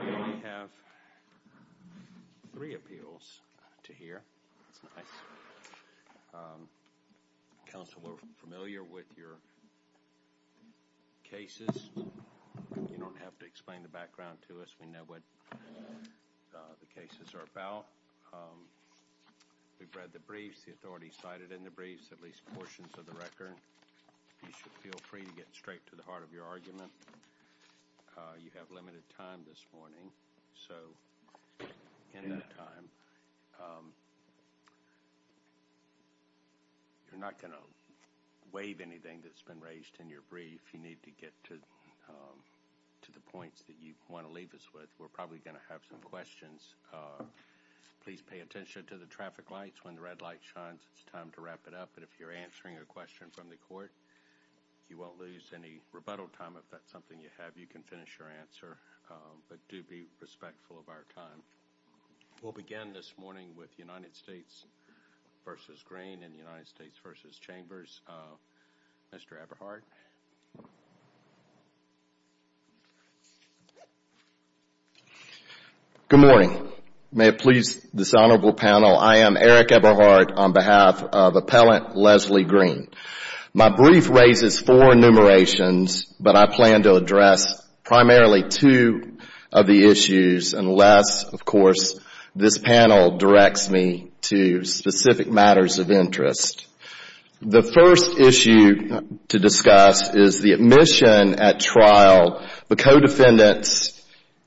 We have three appeals to hear. Council are familiar with your cases. You don't have to explain the background to us. We know what the cases are about. We've read the briefs, the authorities cited in the briefs, at least portions of the record. You should feel free to get straight to the heart of your argument. You have limited time this morning. You're not going to waive anything that's been raised in your brief. You need to get to the points that you want to leave us with. We're probably going to have some questions. Please pay attention to the traffic lights. When the red light shines, it's time to wrap it up. If you're from the court, you won't lose any rebuttal time. If that's something you have, you can finish your answer, but do be respectful of our time. We'll begin this morning with United States v. Green and United States v. Chambers. Mr. Eberhardt. Good morning. May it please this honorable panel, I am Eric Eberhardt on behalf of Appellant Leslie Green. My brief raises four enumerations, but I plan to address primarily two of the issues unless, of course, this panel directs me to specific matters of interest. The first issue to discuss is the admission at trial, the co-defendant's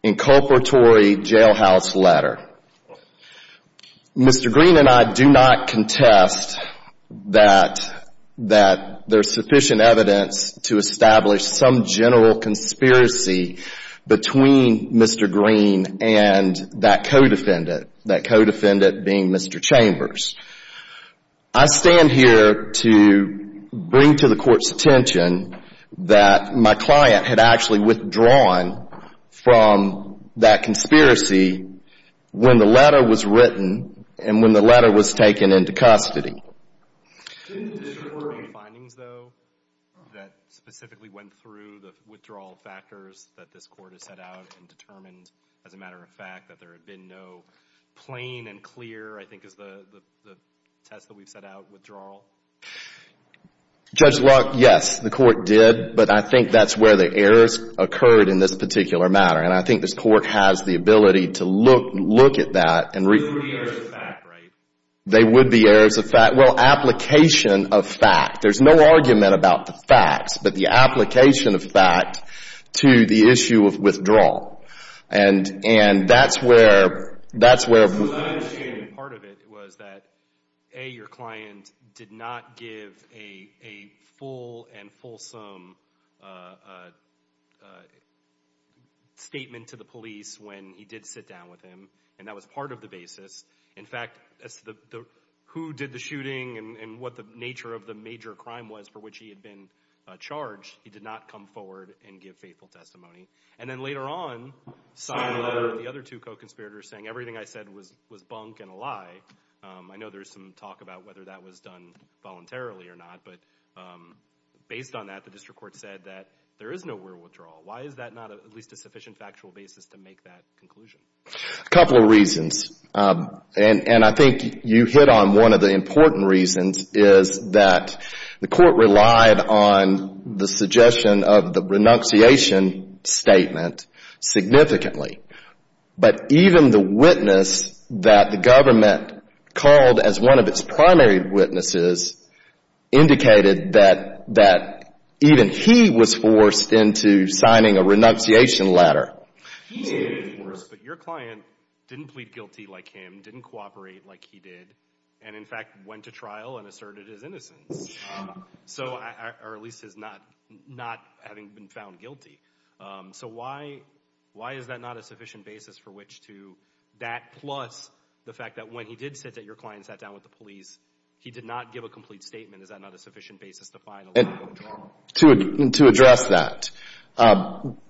inculpatory jailhouse letter. Mr. Green and I do not contest that there's sufficient evidence to establish some general conspiracy between Mr. Green and that co-defendant, that co-defendant being Mr. Chambers. I stand here to bring to the court's attention that my client had actually withdrawn from that conspiracy when the letter was written and when the letter was taken into custody. Did it differ from the findings, though, that specifically went through the withdrawal factors that this court has set out and determined, as a matter of fact, that there had been no plain and clear, I think is the test that we've set out, withdrawal? Judge Locke, yes, the court did, but I think that's where the errors occurred in this particular matter, and I think this court has the ability to look at that and re- They would be errors of fact, right? They would be errors of fact. Well, application of fact. There's no argument about the facts, but the application of fact to the issue of withdrawal, and that's where Part of it was that, A, your client did not give a full and fulsome statement to the police when he did sit down with him, and that was part of the basis. In fact, as to who did the shooting and what the nature of the major crime was for which he had been charged, he did not come forward and give faithful testimony. And then later on, the other two co-conspirators saying everything I said was bunk and a lie, I know there's some talk about whether that was done voluntarily or not, but based on that, the district court said that there is no real withdrawal. Why is that not at least a sufficient factual basis to make that conclusion? A couple of reasons, and I think you hit on one of the important reasons is that the court relied on the suggestion of the renunciation statement significantly. But even the witness that the government called as one of its primary witnesses indicated that even he was forced into signing a renunciation letter. He did, of course, but your client didn't plead guilty like him, didn't cooperate like he did, and in fact went to trial and asserted his innocence, or at least is not having been found guilty. So why is that not a sufficient basis for which to, that plus the fact that when he did say that your client sat down with the police, he did not give a complete statement, is that not a sufficient basis to find a line of drama? To address that,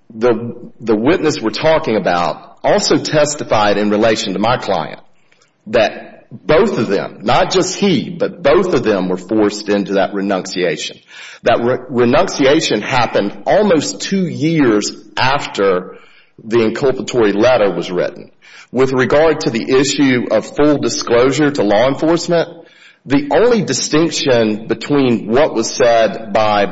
the witness we're talking about also testified in relation to my client that both of them, not just he, but both of them were forced into that renunciation. That renunciation happened almost two years after the inculpatory letter was written. With regard to the issue of full disclosure to law enforcement, the only distinction between what was said by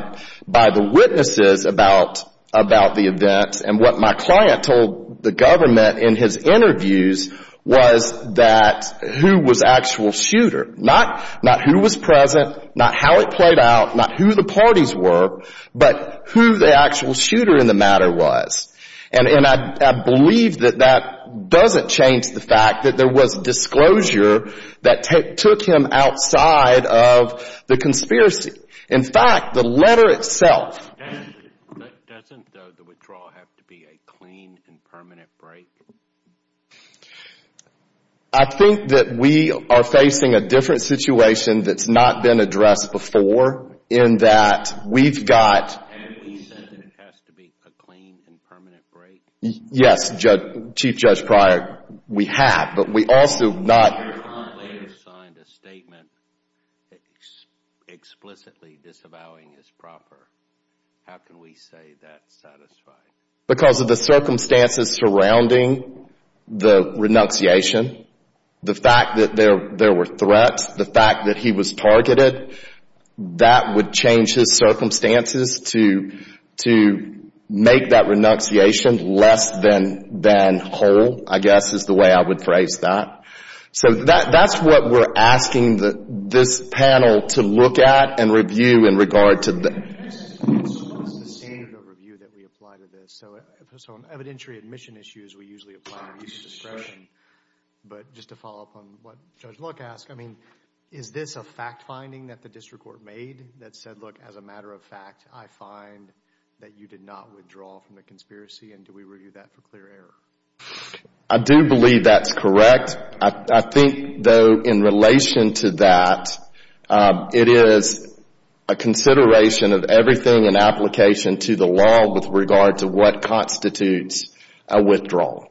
the witnesses about the event and what my client told the government in his interviews was that who was the actual shooter. Not who was present, not how it played out, not who the parties were, but who the actual shooter in the matter was. And I believe that that doesn't change the fact that there was disclosure that took him outside of the conspiracy. In fact, the letter itself. Doesn't the withdrawal have to be a clean and permanent break? I think that we are facing a different situation that's not been addressed before in that we've got... Have we said that it has to be a clean and permanent break? Yes, Chief Judge Pryor, we have, but we also have not... ...signed a statement explicitly disavowing his proper. How can we say that's satisfied? Because of the circumstances surrounding the renunciation, the fact that there were threats, the fact that he was targeted, that would change his circumstances to make that renunciation less than whole, I guess, is the way I would phrase that. So that's what we're asking this panel to look at and review in regard to... ...standard of review that we apply to this. So on evidentiary admission issues, we usually apply a use of discretion. But just to follow up on what Judge Luck asked, I mean, is this a fact finding that the district court made that said, look, as a matter of fact, I find that you did not withdraw from the conspiracy, and do we review that for clear error? I do believe that's correct. I think, though, in relation to that, it is a consideration of everything in application to the law with regard to what constitutes a withdrawal.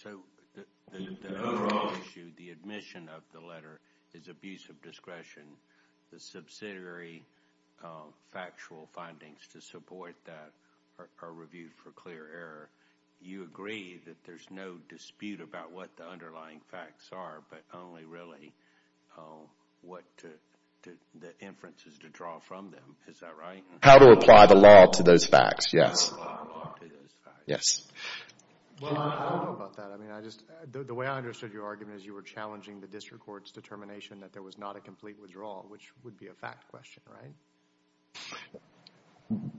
So the other issue, the admission of the letter is abuse of discretion. The subsidiary factual findings to support that are reviewed for clear error. You agree that there's no dispute about what the underlying facts are, but only really what the inferences to draw from them. Is that right? How to apply the law to those facts, yes. How to apply the law to those facts. Yes. Well, I don't know about that. I mean, I just, the way I understood your argument is you were challenging the district court's determination that there was not a complete withdrawal, which would be a fact question, right?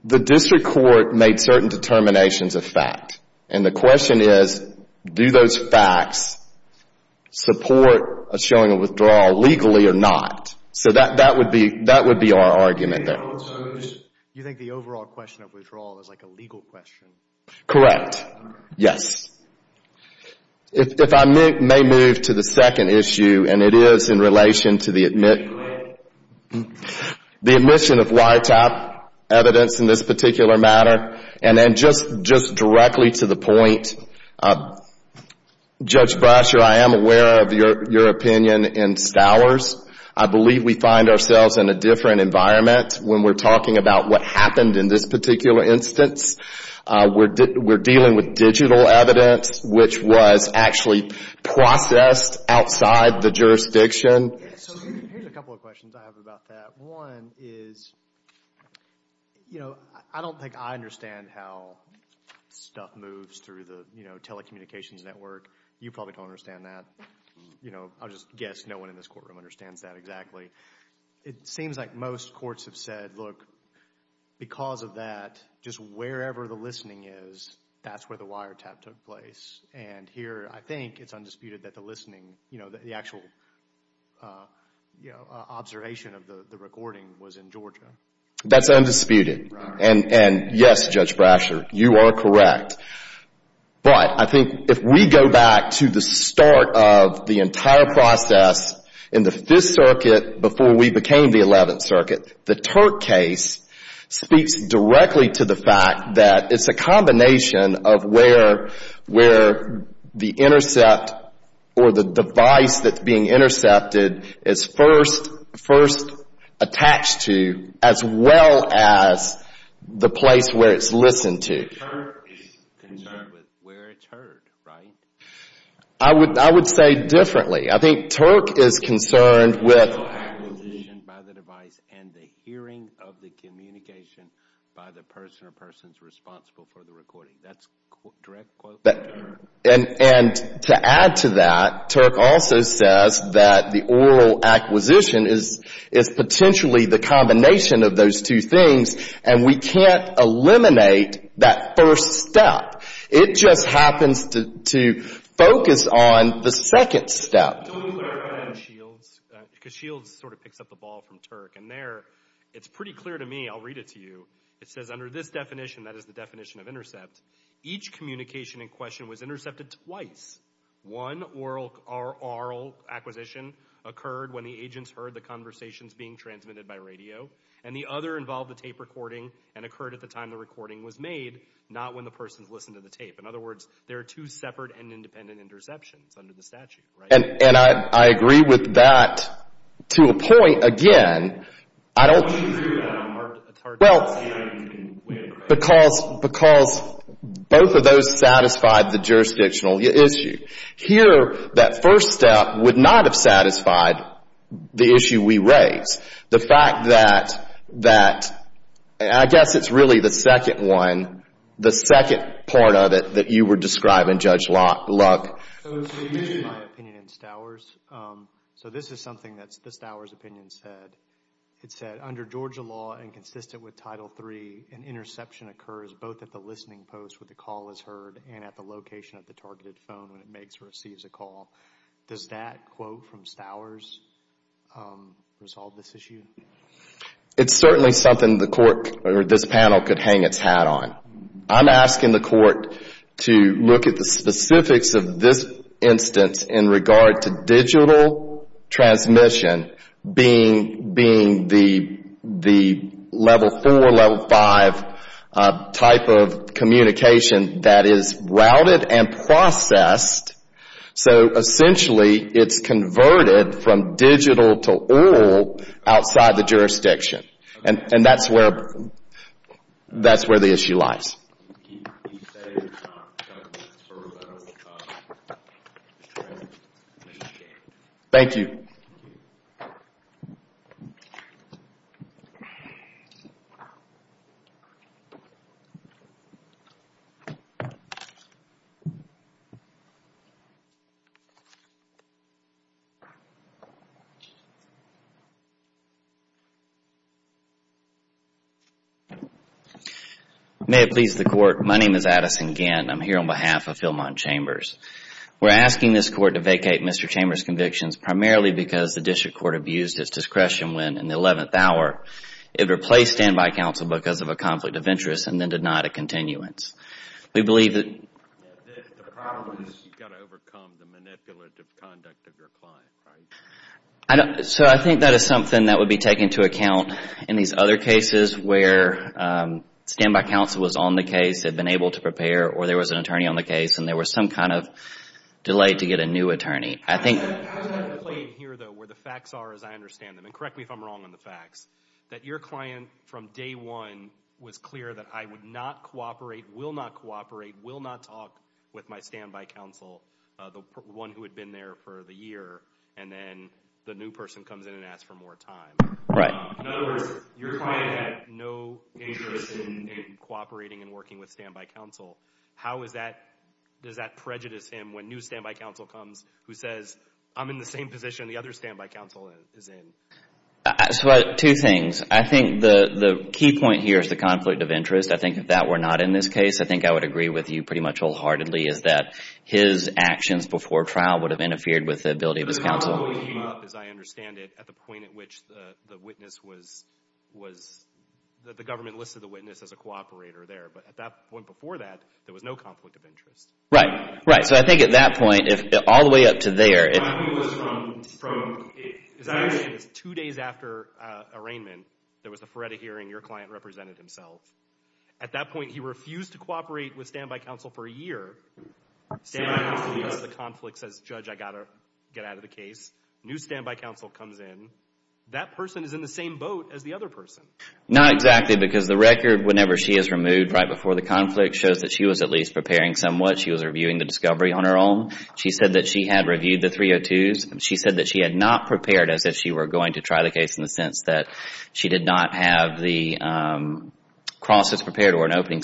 The district court made certain determinations of fact, and the question is, do those facts support a showing of withdrawal legally or not? So that would be our argument there. You think the overall question of withdrawal is like a legal question? Correct. Yes. If I may move to the second issue, and it is in relation to the admit of YTAP evidence in this particular matter, and then just directly to the point, Judge Brasher, I am aware of your opinion in Stowers. I believe we find ourselves in a different environment when we're talking about what happened in this particular instance. We're dealing with digital evidence, which was actually processed outside the jurisdiction. So here's a couple of questions I have about that. One is, you know, I don't think I understand how stuff moves through the telecommunications network. You probably don't understand that. You know, I'll just guess no one in this courtroom understands that exactly. It seems like most courts have said, look, because of that, just wherever the listening is, that's where the YTAP took place. And here, I think it's undisputed that the listening, you know, the actual observation of the recording was in Georgia. That's undisputed. And yes, Judge Brasher, you are correct. But I think if we go back to the start of the entire process in the 5th Circuit before we became the 11th Circuit, the Turk case speaks directly to the fact that it's a combination of where the intercept or the device that's being intercepted is first attached to, as well as the place where it's listened to. Turk is concerned with where it's heard, right? I would say differently. I think Turk is concerned with the oral acquisition by the device and the hearing of the communication by the person or persons responsible for the recording. That's a direct quote from Turk. And to add to that, Turk also says that the oral acquisition is potentially the combination of those two things, and we can't eliminate that first step. It just happens to focus on the second step. Don't you clarify on Shields? Because Shields sort of picks up the ball from Turk. And there, it's pretty clear to me, I'll read it to you, it says under this definition, that is the definition of intercept, each communication in question was intercepted twice. One oral acquisition occurred when the agents heard the conversations being transmitted by radio, and the other involved the tape recording and occurred at the time the recording was made, not when the persons listened to the tape. In other words, there are two separate and independent interceptions under the statute, right? And I agree with that to a point. Again, I don't... Why do you agree with that on the mark of the target? Well, because both of those satisfied the jurisdictional issue. Here, that first step would not have satisfied the issue we raised. The fact that, I guess it's really the second one, the second part of it that you were describing, Judge Luck. So, you mentioned my opinion in Stowers. So, this is something that the Stowers opinion said. It said, under Georgia law and consistent with Title III, an interception occurs both at the listening post where the call is heard and at the location of the targeted phone when it makes or receives a call. Does that quote from Stowers resolve this issue? It's certainly something the court or this panel could hang its hat on. I'm asking the court to look at the specifics of this instance in regard to digital transmission being the level four, level five type of communication that is routed and processed. So, essentially, it's converted from digital to oral outside the jurisdiction. And that's where the issue lies. Thank you. My name is Addison Gant. I'm here on behalf of Philmont Chambers. We're asking this court to vacate Mr. Chambers' convictions primarily because the district court abused its discretion when, in the eleventh hour, it replaced standby counsel because of a conflict of interest and then denied a continuance. We believe that... The problem is you've got to overcome the manipulative conduct of your client, right? So, I think that is something that would be taken into account in these other cases where standby counsel was on the case, had been able to prepare, or there was an attorney on the case, and there was some kind of delay to get a new attorney. I think... I have a complaint here, though, where the facts are as I understand them. And correct me if I'm wrong on the facts. That your client, from day one, was clear that I would not cooperate, will not cooperate, will not talk with my standby counsel, the one who had been there for the year. And then the new person comes in and asks for more time. Right. In other words, your client had no interest in cooperating and working with standby counsel. How is that... does that prejudice him when new standby counsel comes who says, I'm in the same position the other standby counsel is in? So, two things. I think the key point here is the conflict of interest. I think if that were not in this case, I think I would agree with you pretty much wholeheartedly is that his actions before trial would have interfered with the ability of his counsel. The conflict came up, as I understand it, at the point at which the witness was... that the government listed the witness as a cooperator there. But at that point before that, there was no conflict of interest. Right. Right. So, I think at that point, all the way up to there... The conflict was from... two days after arraignment, there was a FREDA hearing. Your client represented himself. At that point, he refused to cooperate with standby counsel for a year. Standby counsel leaves. The conflict says, Judge, I've got to get out of the case. New standby counsel comes in. That person is in the same boat as the other person. Not exactly because the record, whenever she is removed right before the conflict, shows that she was at least preparing somewhat. She was reviewing the discovery on her own. She said that she had reviewed the 302s. She said that she had not prepared as if she were going to try the case in the sense that she did not have the crosses prepared or an opening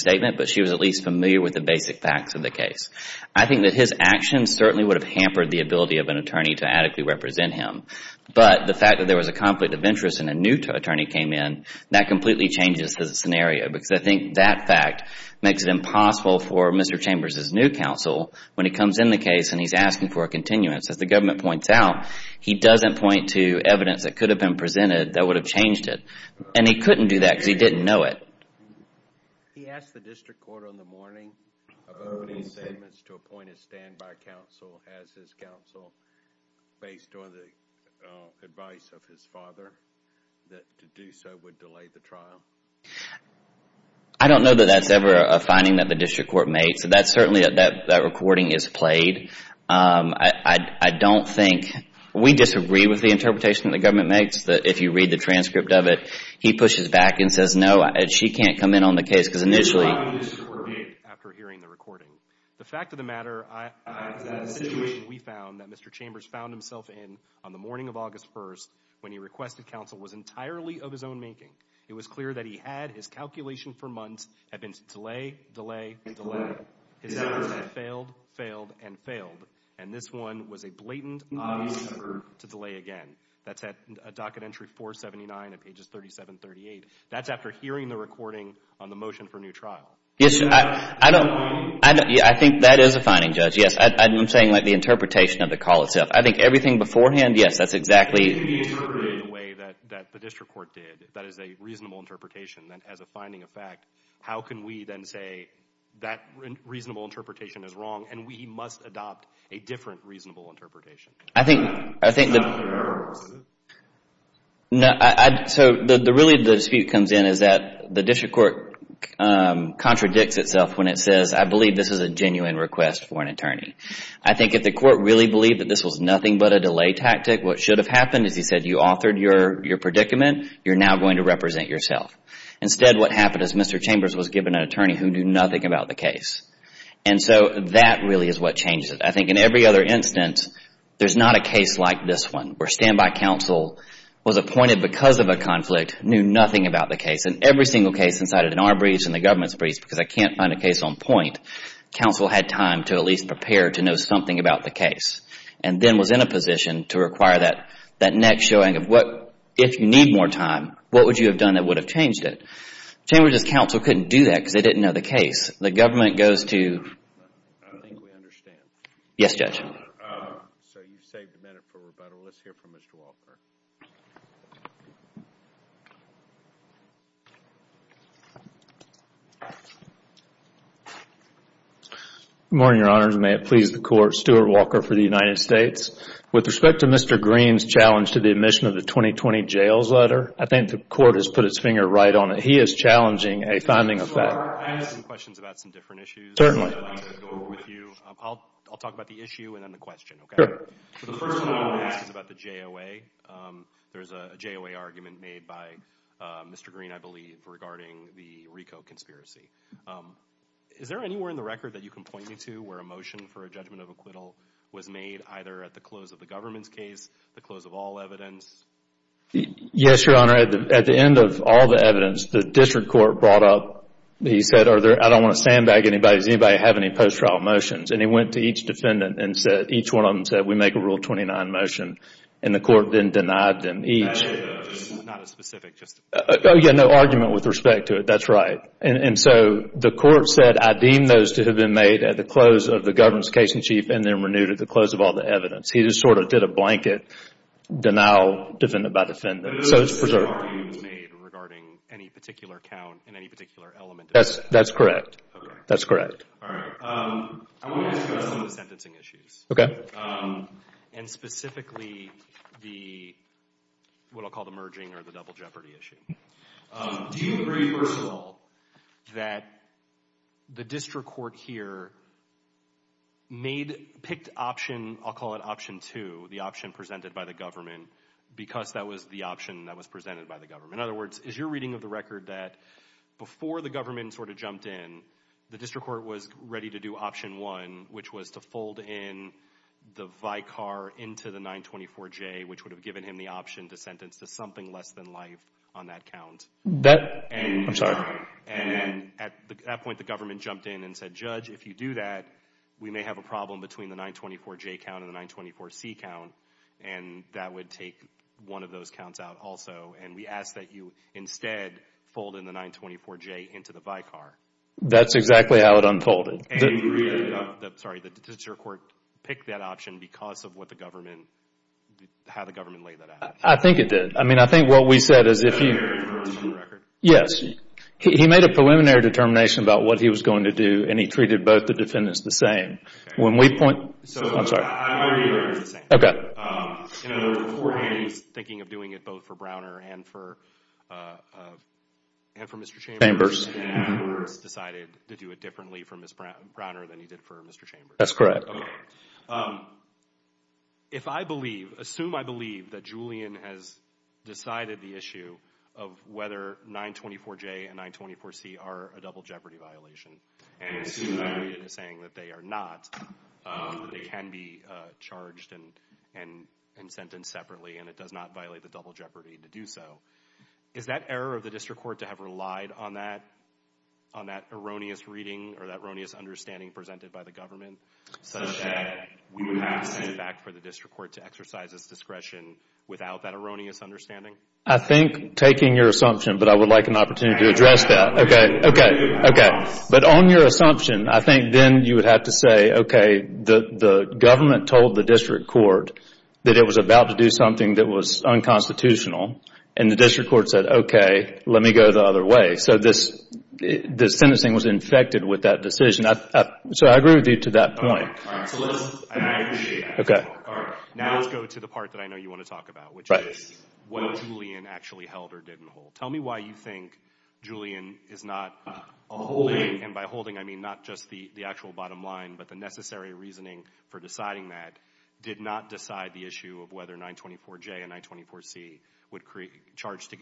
facts of the case. I think that his actions certainly would have hampered the ability of an attorney to adequately represent him. But the fact that there was a conflict of interest and a new attorney came in, that completely changes the scenario because I think that fact makes it impossible for Mr. Chambers' new counsel when he comes in the case and he is asking for a continuance. As the government points out, he doesn't point to evidence that could have been presented that would have changed it. And he couldn't do that because he didn't know it. He asked the district court on the morning of opening statements to appoint a standby counsel as his counsel based on the advice of his father that to do so would delay the trial. I don't know that that is ever a finding that the district court makes. That recording is played. I don't think, we disagree with the interpretation the government makes that if you read the transcript of it, he pushes back and says no, she can't come in on the case because initially... The fact of the matter, the situation we found that Mr. Chambers found himself in on the morning of August 1st when he requested counsel was entirely of his own making. It was clear that he had his calculation for months have been delay, delay, delay. His efforts have failed, failed, and failed. And this one was a blatant obvious error to delay again. That's at docket entry 479 at pages 37, 38. That's after hearing the recording on the motion for new trial. Yes, I think that is a finding, Judge. Yes, I'm saying like the interpretation of the call itself. I think everything beforehand, yes, that's exactly... If you interpret it in a way that the district court did, that is a reasonable interpretation that has a finding of fact, how can we then say that reasonable interpretation is wrong and we must adopt a different reasonable interpretation? I think... So really the dispute comes in is that the district court contradicts itself when it says I believe this is a genuine request for an attorney. I think if the court really believed that this was nothing but a delay tactic, what should have happened is he said you authored your predicament, you're now going to represent yourself. Instead, what happened is Mr. Chambers was given an attorney who knew nothing about the case. And so that really is what changed it. I think in every other instance, there's not a case like this one where standby counsel was appointed because of a conflict, knew nothing about the case. In every single case since I did an R briefs and the government's briefs because I can't find a case on point, counsel had time to at least prepare to know something about the case and then was in a position to require that next showing of what, if you need more time, what would you have done that would have changed it? Chambers' counsel couldn't do that because they didn't know the case. The government goes to... I think we understand. Yes, Judge. So you've saved a minute for rebuttal. Let's hear from Mr. Walker. Good morning, Your Honor. May it please the Court. Stuart Walker for the United States. With respect to Mr. Green's challenge to the admission of the 2020 jails letter, I think the court has put its finger right on it. He is challenging a timing effect. I have some questions about some different issues. I'd like to go over with you. I'll talk about the issue and then the question, okay? Sure. The first one I want to ask is about the JOA. There's a JOA argument made by Mr. Green, I believe, regarding the RICO conspiracy. Is there anywhere in the record that you can point me to where a motion for a judgment of acquittal was made either at the close of the government's case, the close of all evidence? Yes, Your Honor. At the end of all the evidence, the district court brought up the motion. He said, I don't want to sandbag anybody. Does anybody have any post-trial motions? And he went to each defendant and said, each one of them said, we make a Rule 29 motion. And the court then denied them each. Not as specific, just... Oh, yeah, no argument with respect to it. That's right. And so the court said, I deem those to have been made at the close of the government's case in chief and then renewed at the close of all the evidence. He just sort of did a blanket denial, defendant by defendant. So it's preserved. No argument was made regarding any particular count and any particular element. That's correct. That's correct. All right. I want to discuss some of the sentencing issues. And specifically the, what I'll call the merging or the double jeopardy issue. Do you agree, first of all, that the district court here made, picked option, I'll call it option two, the option presented by the government because that was the option that was presented by the government. In other words, is your reading of the record that before the government sort of jumped in, the district court was ready to do option one, which was to fold in the Vicar into the 924J, which would have given him the option to sentence to something less than life on that count. That, I'm sorry. And at that point, the government jumped in and said, Judge, if you do that, we may have a problem between the 924J count and the 924C count. And that would take one of those counts out also. And we ask that you instead fold in the 924J into the Vicar. That's exactly how it unfolded. And you agree that the, sorry, the district court picked that option because of what the government, how the government laid that out. I think it did. I mean, I think what we said is if you... Did he make a preliminary determination on the record? Yes. He made a preliminary determination about what he was going to do and he treated both the defendants the same. When we point... So... I'm sorry. I'm already aware it's the same. Okay. You know, beforehand he was thinking of doing it both for Browner and for Mr. Chambers. Chambers. And afterwards decided to do it differently for Ms. Browner than he did for Mr. Chambers. That's correct. Okay. If I believe, assume I believe that Julian has decided the issue of whether 924J and 924C are a double jeopardy violation, and assume that I read it as saying that they are not, they can be charged and sentenced separately and it does not violate the double jeopardy to do so, is that error of the district court to have relied on that on that erroneous reading or that erroneous understanding presented by the government such that we would have to send back for the district court to exercise its discretion without that erroneous understanding? I think taking your assumption, but I would like an opportunity to address that. Okay. Okay. Okay. But on your assumption, I think then you would have to say, okay, the government told the district court that it was about to do something that was unconstitutional, and the district court said, okay, let me go the other way. So this sentencing was infected with that decision. So I agree with you to that point. All right. All right. So let's, and I appreciate that. Okay. All right. Now let's go to the part that I know you want to talk about, which is what Julian actually held or didn't hold. Tell me why you think Julian is not holding, and by holding I mean not just the actual bottom line, but the necessary reasoning for deciding that, did not decide the issue of whether 924J and 924C would create, charged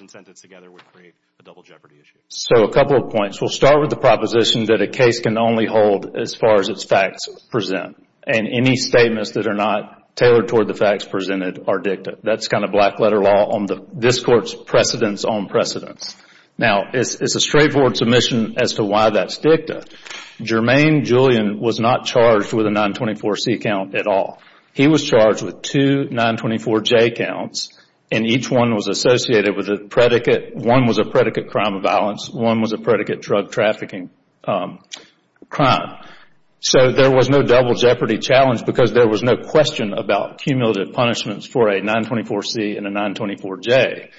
and sentenced together would create a double jeopardy issue. So a couple of points. We'll start with the proposition that a case can only hold as far as its facts present, and any statements that are not tailored toward the facts presented are dicta. That's kind of black letter law on this court's precedence on precedence. Now, it's a straightforward submission as to why that's dicta. Jermaine Julian was not charged with a 924C count at all. He was charged with two 924J counts, and each one was associated with a predicate. One was a predicate crime of violence. One was a predicate drug trafficking crime. So there was no double jeopardy challenge because there was no question about cumulative punishments for a 924C and a 924J.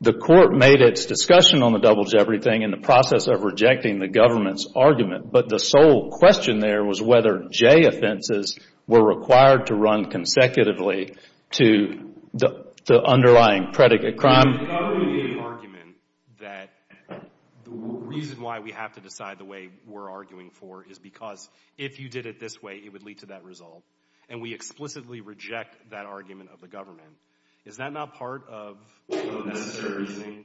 The court made its discussion on the double jeopardy thing in the process of rejecting the government's argument, but the sole question there was whether J offenses were required to run consecutively to the underlying predicate crime. The government made an argument that the reason why we have to decide the way we're arguing for is because if you did it this way, it would lead to that result, and we would explicitly reject that argument of the government. Is that not part of the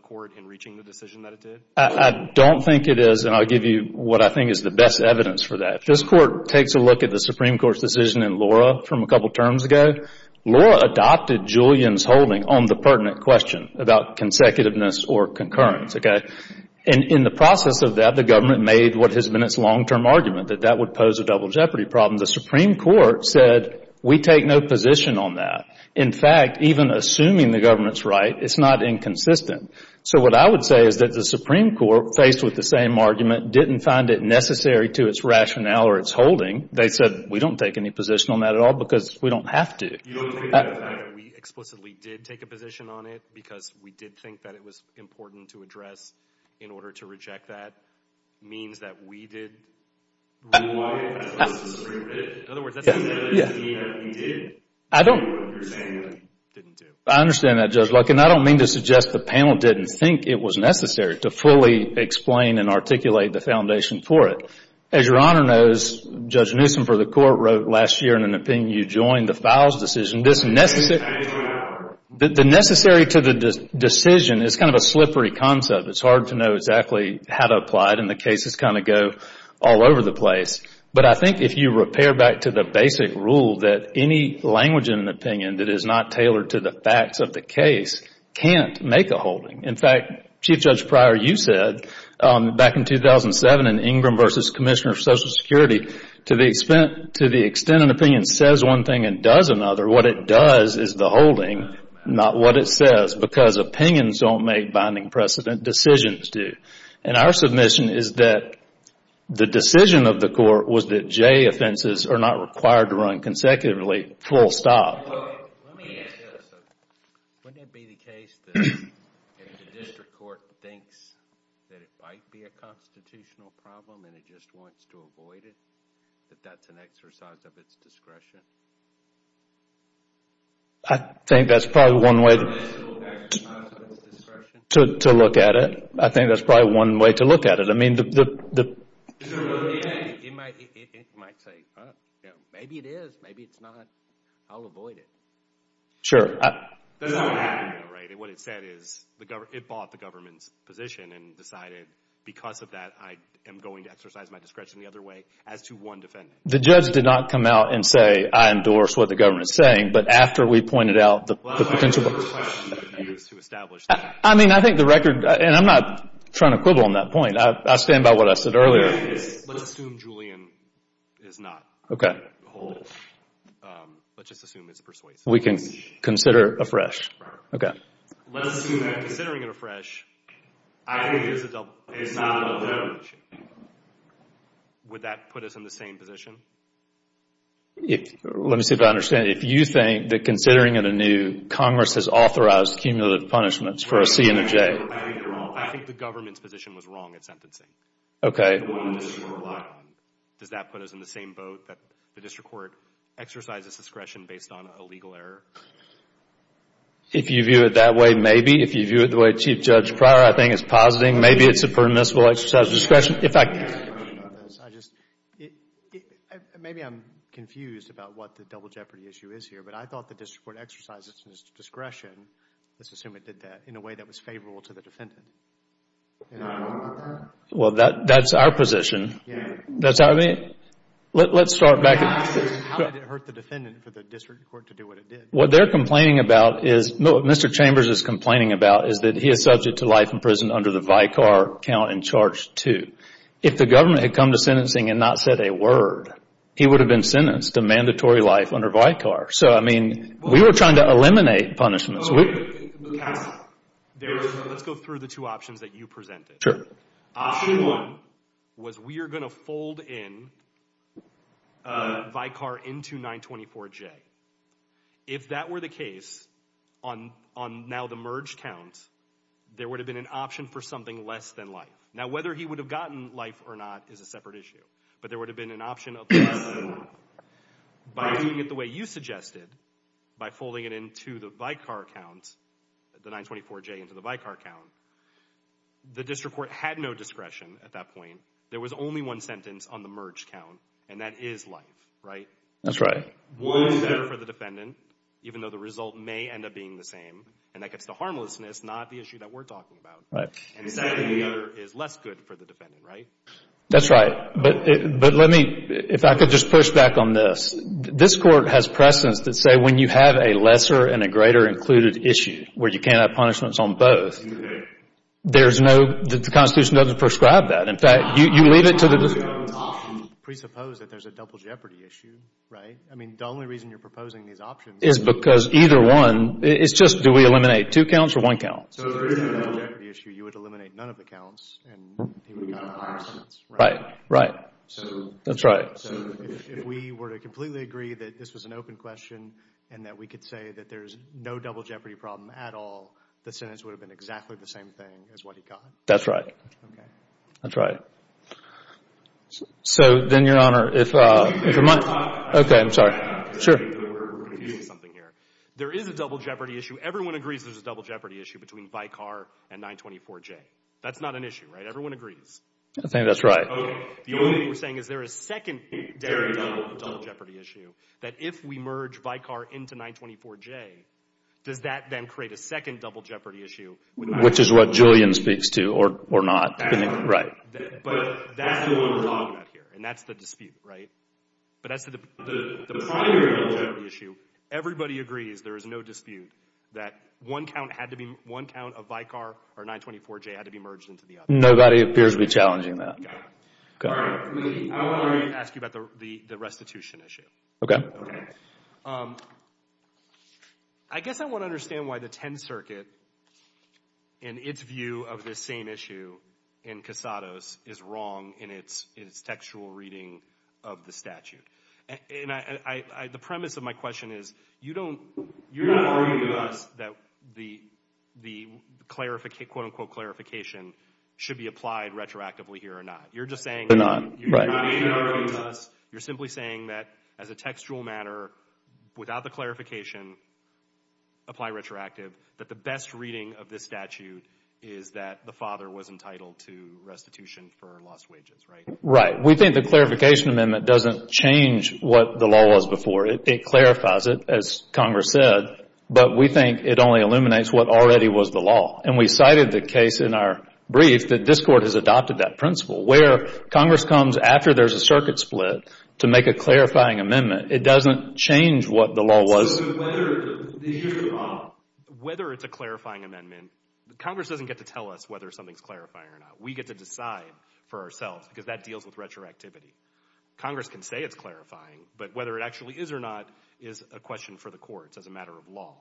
court in reaching the decision that it did? I don't think it is, and I'll give you what I think is the best evidence for that. If this court takes a look at the Supreme Court's decision in Laura from a couple terms ago, Laura adopted Julian's holding on the pertinent question about consecutiveness or concurrence, okay? And in the process of that, the government made what has been its long-term argument that that would pose a double jeopardy problem. The Supreme Court said, we take no position on that. In fact, even assuming the government's right, it's not inconsistent. So what I would say is that the Supreme Court, faced with the same argument, didn't find it necessary to its rationale or its holding. They said, we don't take any position on that at all because we don't have to. You don't think that the fact that we explicitly did take a position on it because we did think that it was important to address in order to reject that means that we did? In other words, that doesn't mean that we did. I don't. You're saying that we didn't do. I understand that, Judge Luckin. I don't mean to suggest the panel didn't think it was necessary to fully explain and articulate the foundation for it. As Your Honor knows, Judge Newsom for the Court wrote last year in an opinion, you joined the Files decision. The necessary to the decision is kind of a slippery concept. It's hard to know exactly how to apply it and the cases kind of go all over the place. But I think if you repair back to the basic rule that any language in an opinion that is not tailored to the facts of the case can't make a holding. In fact, Chief Judge Pryor, you said back in 2007 in Ingram v. Commissioner for Social Security, what it does is the holding, not what it says because opinions don't make binding precedent, decisions do. And our submission is that the decision of the court was that J offenses are not required to run consecutively full stop. Let me ask this. Wouldn't it be the case that if the district court thinks that it might be a constitutional problem and it just wants to avoid it, that that's an exercise of its discretion? I think that's probably one way to look at it. I think that's probably one way to look at it. I mean the... It might say, maybe it is, maybe it's not. I'll avoid it. Sure. That's not what happened though, right? It bought the government's position and decided, because of that, I am going to exercise my discretion the other way as to one defendant. The judge did not come out and say, I endorse what the government is saying, but after we pointed out the potential... Well, I think the question is to establish that. I mean, I think the record, and I'm not trying to quibble on that point. I stand by what I said earlier. Let's assume Julian is not holding. Okay. Let's just assume it's persuasive. We can consider afresh. Okay. Let's assume that, considering it afresh, I think there's a double... It's not a double-edged sword. Would that put us in the same position? Let me see if I understand. If you think that, considering it anew, Congress has authorized cumulative punishments for a C and a J... I think you're wrong. I think the government's position was wrong at sentencing. Okay. Does that put us in the same boat, that the district court exercises discretion based on a legal error? If you view it that way, maybe. If you view it the way Chief Judge Pryor, I think, is positing, maybe it's a permissible exercise of discretion. If I... I just... Maybe I'm confused about what the double jeopardy issue is here, but I thought the district court exercised its discretion, let's assume it did that, in a way that was favorable to the defendant. Well, that's our position. Let's start back... How did it hurt the defendant for the district court to do what it did? What they're complaining about is, what Mr. Chambers is complaining about, is that he is subject to life in prison under the Vicar Count in Charge 2. If the government had come to sentencing and not said a word, he would have been sentenced to mandatory life under Vicar. So, I mean, we were trying to eliminate punishments. Let's go through the two options that you presented. Sure. Option one was we are going to fold in Vicar into 924J. If that were the case, on now the merge count, there would have been an option for something less than life. Now, whether he would have gotten life or not is a separate issue, but there would have been an option of less than life. By doing it the way you suggested, by folding it into the Vicar Count, the 924J into the Vicar Count, the district court had no discretion at that point. There was only one sentence on the merge count, and that is life, right? That's right. One is better for the defendant, even though the result may end up being the same, and that gets to harmlessness, not the issue that we're talking about. And exactly the other is less good for the defendant, right? That's right. But let me, if I could just push back on this. This Court has precedence to say when you have a lesser and a greater included issue, where you can't have punishments on both, there's no, the Constitution doesn't prescribe that. In fact, you leave it to the district court. Presuppose that there's a double jeopardy issue, right? I mean, the only reason you're proposing these options is because either one, it's just do we eliminate two counts or one count? So if there is a double jeopardy issue, you would eliminate none of the counts, and he would have gotten a higher sentence, right? Right, right. That's right. So if we were to completely agree that this was an open question and that we could say that there's no double jeopardy problem at all, the sentence would have been exactly the same thing as what he got? That's right. Okay. That's right. So then, Your Honor, if your mind... Excuse me, Your Honor. Okay, I'm sorry. Sure. We're confusing something here. There is a double jeopardy issue. Everyone agrees there's a double jeopardy issue between Vicar and 924J. That's not an issue, right? Everyone agrees. I think that's right. Okay. The only thing we're saying is there is secondary double jeopardy issue, that if we merge Vicar into 924J, does that then create a second double jeopardy issue? Which is what Julian speaks to, or not. But that's the one we're talking about here, and that's the dispute, right? But that's the primary double jeopardy issue. Everybody agrees there is no dispute that one count of Vicar or 924J had to be merged into the other. Nobody appears to be challenging that. Okay. Okay. I guess I want to understand why the Tenth Circuit, in its view of this same issue in Casados, is wrong in its textual reading of the statute. And the premise of my question is, you're not arguing with us that the quote-unquote clarification should be applied retroactively here or not. You're just saying... We're not, right. You're not even arguing with us. You're simply saying that, as a textual matter, without the clarification, apply retroactive, that the best reading of this statute is that the father was entitled to restitution for lost wages, right? Right. We think the clarification amendment doesn't change what the law was before. It clarifies it, as Congress said. But we think it only illuminates what already was the law. And we cited the case in our brief that this Court has adopted that principle, where Congress comes after there's a circuit split to make a clarifying amendment. It doesn't change what the law was. Whether it's a clarifying amendment, Congress doesn't get to tell us whether something's clarifying or not. We get to decide for ourselves because that deals with retroactivity. Congress can say it's clarifying, but whether it actually is or not is a question for the courts as a matter of law.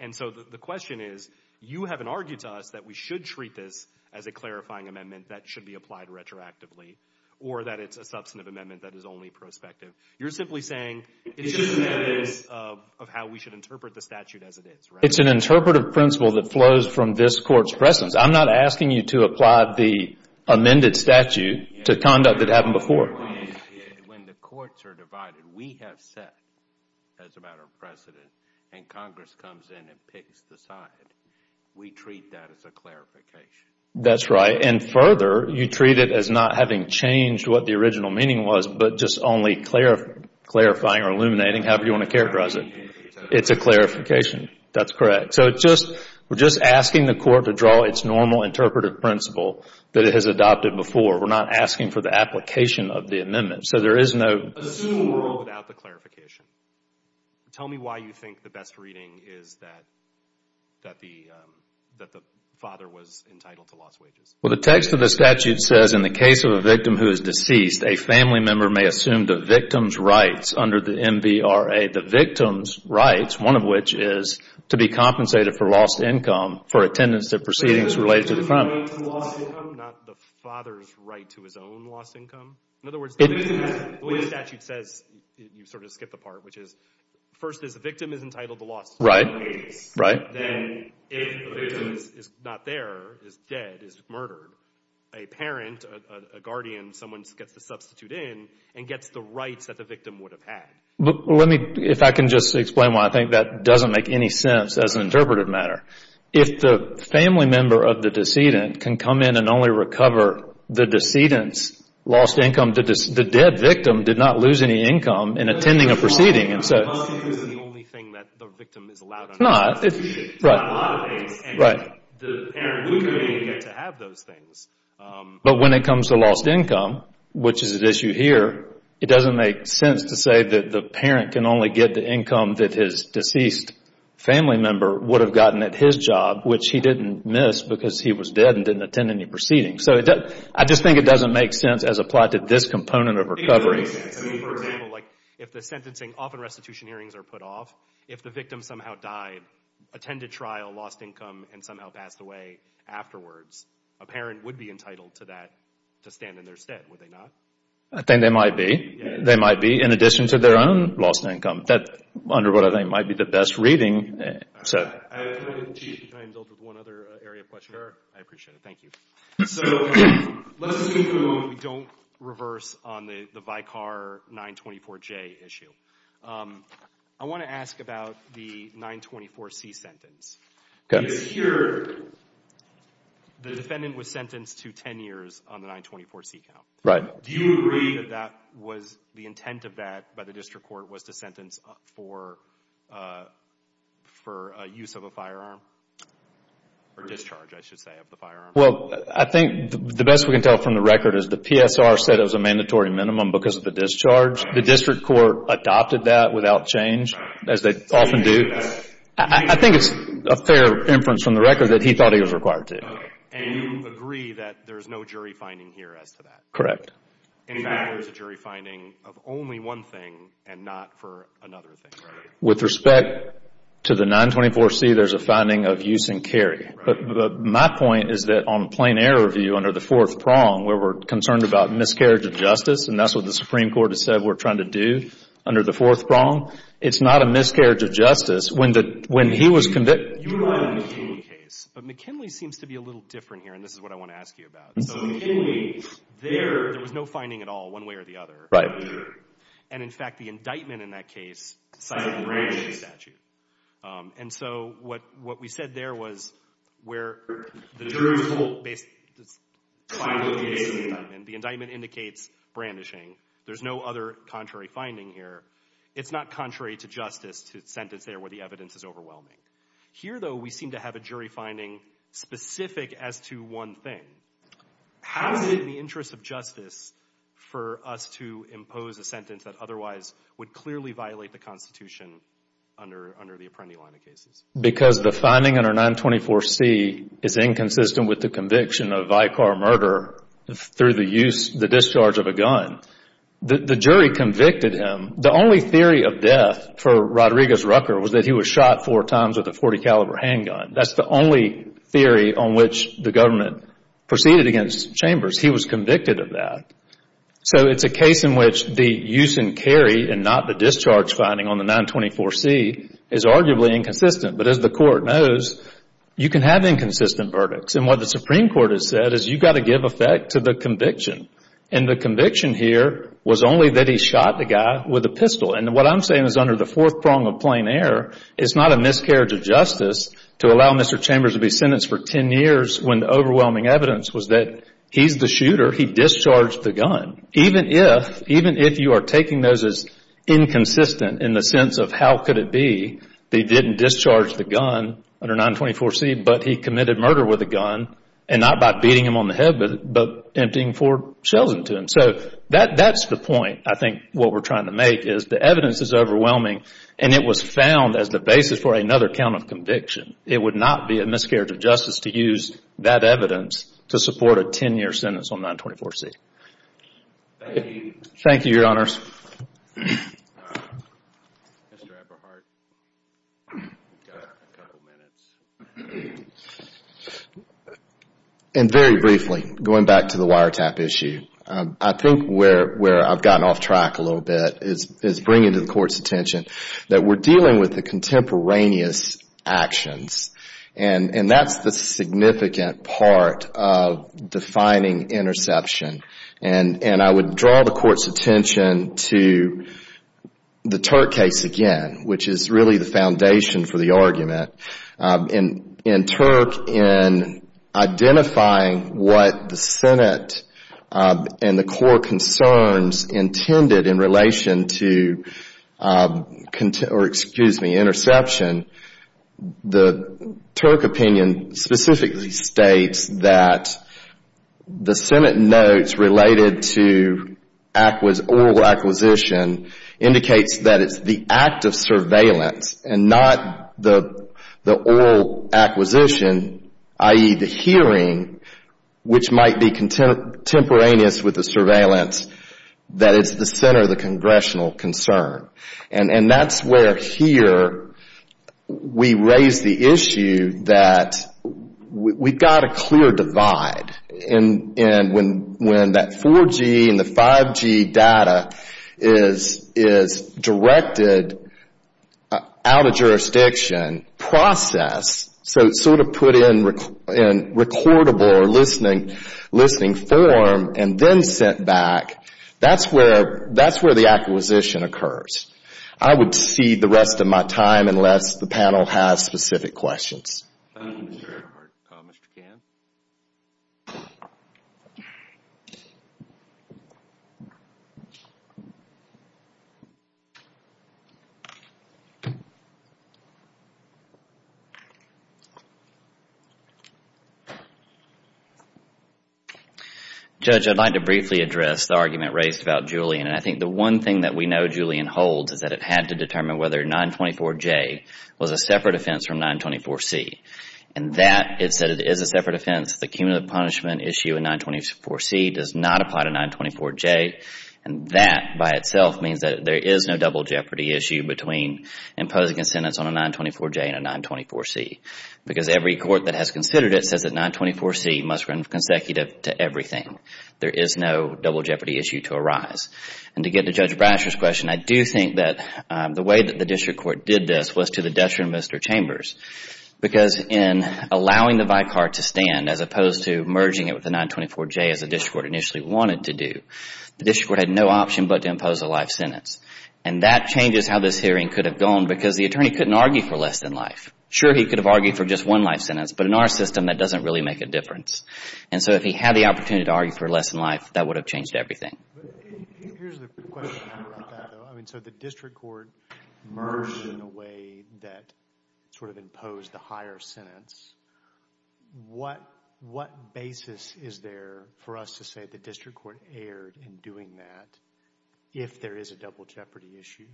And so the question is, you haven't argued to us that we should treat this as a clarifying amendment that should be applied retroactively or that it's a substantive amendment that is only prospective. You're simply saying it's just a matter of how we should interpret the statute as it is, right? It's an interpretive principle that flows from this Court's presence. I'm not asking you to apply the amended statute to conduct that happened before. When the courts are divided, we have said, as a matter of precedent, and Congress comes in and picks the side, we treat that as a clarification. That's right. And further, you treat it as not having changed what the original meaning was but just only clarifying or illuminating, however you want to characterize it. It's a clarification. That's correct. So we're just asking the Court to draw its normal interpretive principle that it has adopted before. We're not asking for the application of the amendment. So there is no... Assume we're without the clarification. Tell me why you think the best reading is that the father was entitled to lost wages. Well, the text of the statute says, in the case of a victim who is deceased, a family member may assume the victim's rights under the MVRA. The victim's rights, one of which is to be compensated for lost income for attendance at proceedings related to the crime. Not the father's right to his own lost income? In other words, the statute says, you sort of skipped a part, which is first is the victim is entitled to lost income. Right. Then if the victim is not there, is dead, is murdered, a parent, a guardian, someone gets to substitute in and gets the rights that the victim would have had. Let me, if I can just explain why I think that doesn't make any sense as an interpretive matter. If the family member of the decedent can come in and only recover the decedent's lost income, the dead victim did not lose any income in attending a proceeding. So it's not the only thing that the victim is allowed to do. No, it's not. It's not a lot of things. Right. The parent wouldn't have been able to get to have those things. But when it comes to lost income, which is at issue here, it doesn't make sense to say that the parent can only get the income that his deceased family member would have gotten at his job, which he didn't miss because he was dead and didn't attend any proceedings. So I just think it doesn't make sense as applied to this component of recovery. It doesn't make sense. I mean, for example, like if the sentencing, often restitution hearings are put off, if the victim somehow died, attended trial, lost income, and somehow passed away afterwards, a parent would be entitled to that, to stand in their stead, would they not? I think they might be. They might be in addition to their own lost income. That, under what I think might be the best reading. Can I indulge with one other area of question? Sure. I appreciate it. Thank you. So let's assume for a moment we don't reverse on the Vicar 924J issue. I want to ask about the 924C sentence. Okay. Because here the defendant was sentenced to 10 years on the 924C count. Right. Do you agree that that was the intent of that by the district court was to sentence for use of a firearm or discharge, I should say, of the firearm? Well, I think the best we can tell from the record is the PSR said it was a mandatory minimum because of the discharge. The district court adopted that without change, as they often do. I think it's a fair inference from the record that he thought he was required to. And you agree that there's no jury finding here as to that? Correct. In fact, there's a jury finding of only one thing and not for another thing, right? With respect to the 924C, there's a finding of use and carry. Right. But my point is that on a plain error view under the fourth prong, where we're concerned about miscarriage of justice, and that's what the Supreme Court has said we're trying to do under the fourth prong, it's not a miscarriage of justice. When he was convicted. But McKinley seems to be a little different here, and this is what I want to ask you about. So McKinley, there, there was no finding at all one way or the other. Right. And, in fact, the indictment in that case cited the brandishing statute. And so what we said there was where the jury's hold is based on the indictment. The indictment indicates brandishing. There's no other contrary finding here. It's not contrary to justice to the sentence there where the evidence is overwhelming. Here, though, we seem to have a jury finding specific as to one thing. How is it in the interest of justice for us to impose a sentence that otherwise would clearly violate the Constitution under the Apprendi line of cases? Because the finding under 924C is inconsistent with the conviction of Vicar murder through the use, the discharge of a gun. The jury convicted him. The only theory of death for Rodriguez Rucker was that he was shot four times with a .40 caliber handgun. That's the only theory on which the government proceeded against Chambers. He was convicted of that. So it's a case in which the use and carry and not the discharge finding on the 924C is arguably inconsistent. But as the Court knows, you can have inconsistent verdicts. And what the Supreme Court has said is you've got to give effect to the conviction. And the conviction here was only that he shot the guy with a pistol. And what I'm saying is under the fourth prong of plain error, it's not a miscarriage of justice to allow Mr. Chambers to be sentenced for ten years when the overwhelming evidence was that he's the shooter, he discharged the gun. Even if you are taking those as inconsistent in the sense of how could it be that he didn't discharge the gun under 924C, but he committed murder with a gun and not by beating him on the head, but emptying four shells into him. So that's the point I think what we're trying to make is the evidence is overwhelming and it was found as the basis for another count of conviction. It would not be a miscarriage of justice to use that evidence to support a ten-year sentence on 924C. Thank you. Thank you, Your Honors. Mr. Eberhardt, you've got a couple of minutes. And very briefly, going back to the wiretap issue, I think where I've gotten off track a little bit is bringing to the Court's attention that we're dealing with the contemporaneous actions. And that's the significant part of defining interception. And I would draw the Court's attention to the Turk case again, which is really the foundation for the argument. In Turk, in identifying what the Senate and the core concerns intended in relation to interception, the Turk opinion specifically states that the Senate notes related to oral acquisition indicates that it's the act of surveillance and not the oral acquisition, i.e., the hearing, which might be contemporaneous with the surveillance, that it's the center of the congressional concern. And that's where here we raise the issue that we've got a clear divide. And when that 4G and the 5G data is directed out of jurisdiction process, so it's sort of put in recordable or listening form and then sent back, that's where the acquisition occurs. I would cede the rest of my time unless the panel has specific questions. Thank you, Mr. Eberhardt. Judge, I'd like to briefly address the argument raised about Julian. And I think the one thing that we know Julian holds is that it had to determine whether 924J was a separate offense from 924C. And that is that it is a separate offense. The cumulative punishment issue in 924C does not apply to 924J. And that by itself means that there is no double jeopardy issue between imposing a sentence on a 924J and a 924C. Because every court that has considered it says that 924C must run consecutive to everything. There is no double jeopardy issue to arise. And to get to Judge Brasher's question, I do think that the way that the district court did this was to the detriment of Mr. Chambers. Because in allowing the vicar to stand as opposed to merging it with the 924J, as the district court initially wanted to do, the district court had no option but to impose a life sentence. And that changes how this hearing could have gone because the attorney couldn't argue for less than life. Sure, he could have argued for just one life sentence. But in our system, that doesn't really make a difference. And so if he had the opportunity to argue for less than life, that would have changed everything. Here's the question about that, though. I mean, so the district court merged in a way that sort of imposed the higher sentence. What basis is there for us to say the district court erred in doing that if there is a double jeopardy issue?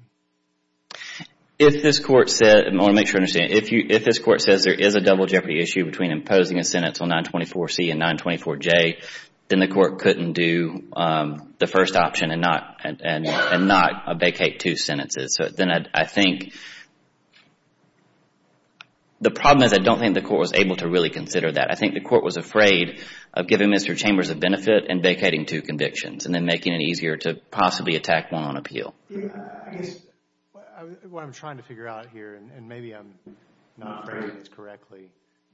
If this court said—I want to make sure I understand. If this court says there is a double jeopardy issue between imposing a sentence on 924C and 924J, then the court couldn't do the first option and not vacate two sentences. So then I think—the problem is I don't think the court was able to really consider that. I think the court was afraid of giving Mr. Chambers a benefit and vacating two convictions and then making it easier to possibly attack one on appeal. I guess what I'm trying to figure out here, and maybe I'm not phrasing this correctly,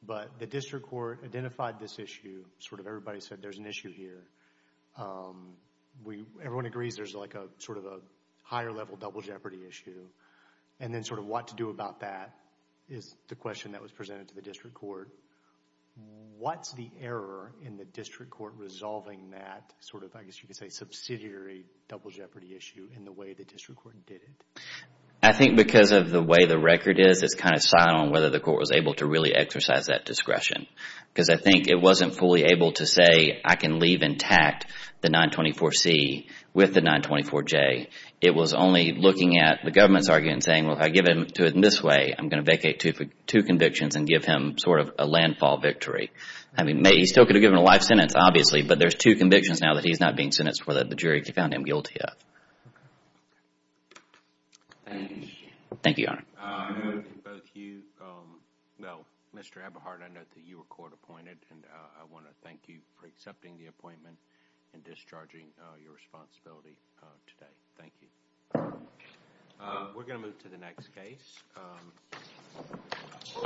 but the district court identified this issue. Sort of everybody said there's an issue here. Everyone agrees there's like a sort of a higher level double jeopardy issue. And then sort of what to do about that is the question that was presented to the district court. What's the error in the district court resolving that sort of, I guess you could say, the district court did it? I think because of the way the record is, it's kind of silent on whether the court was able to really exercise that discretion. Because I think it wasn't fully able to say I can leave intact the 924C with the 924J. It was only looking at the government's argument and saying, well, if I give him to it this way, I'm going to vacate two convictions and give him sort of a landfall victory. I mean, he still could have given a life sentence, obviously, but there's two convictions now that he's not being sentenced for that the jury found him guilty of. Thank you, Your Honor. Well, Mr. Eberhardt, I note that you were court appointed, and I want to thank you for accepting the appointment and discharging your responsibility today. Thank you. We're going to move to the next case.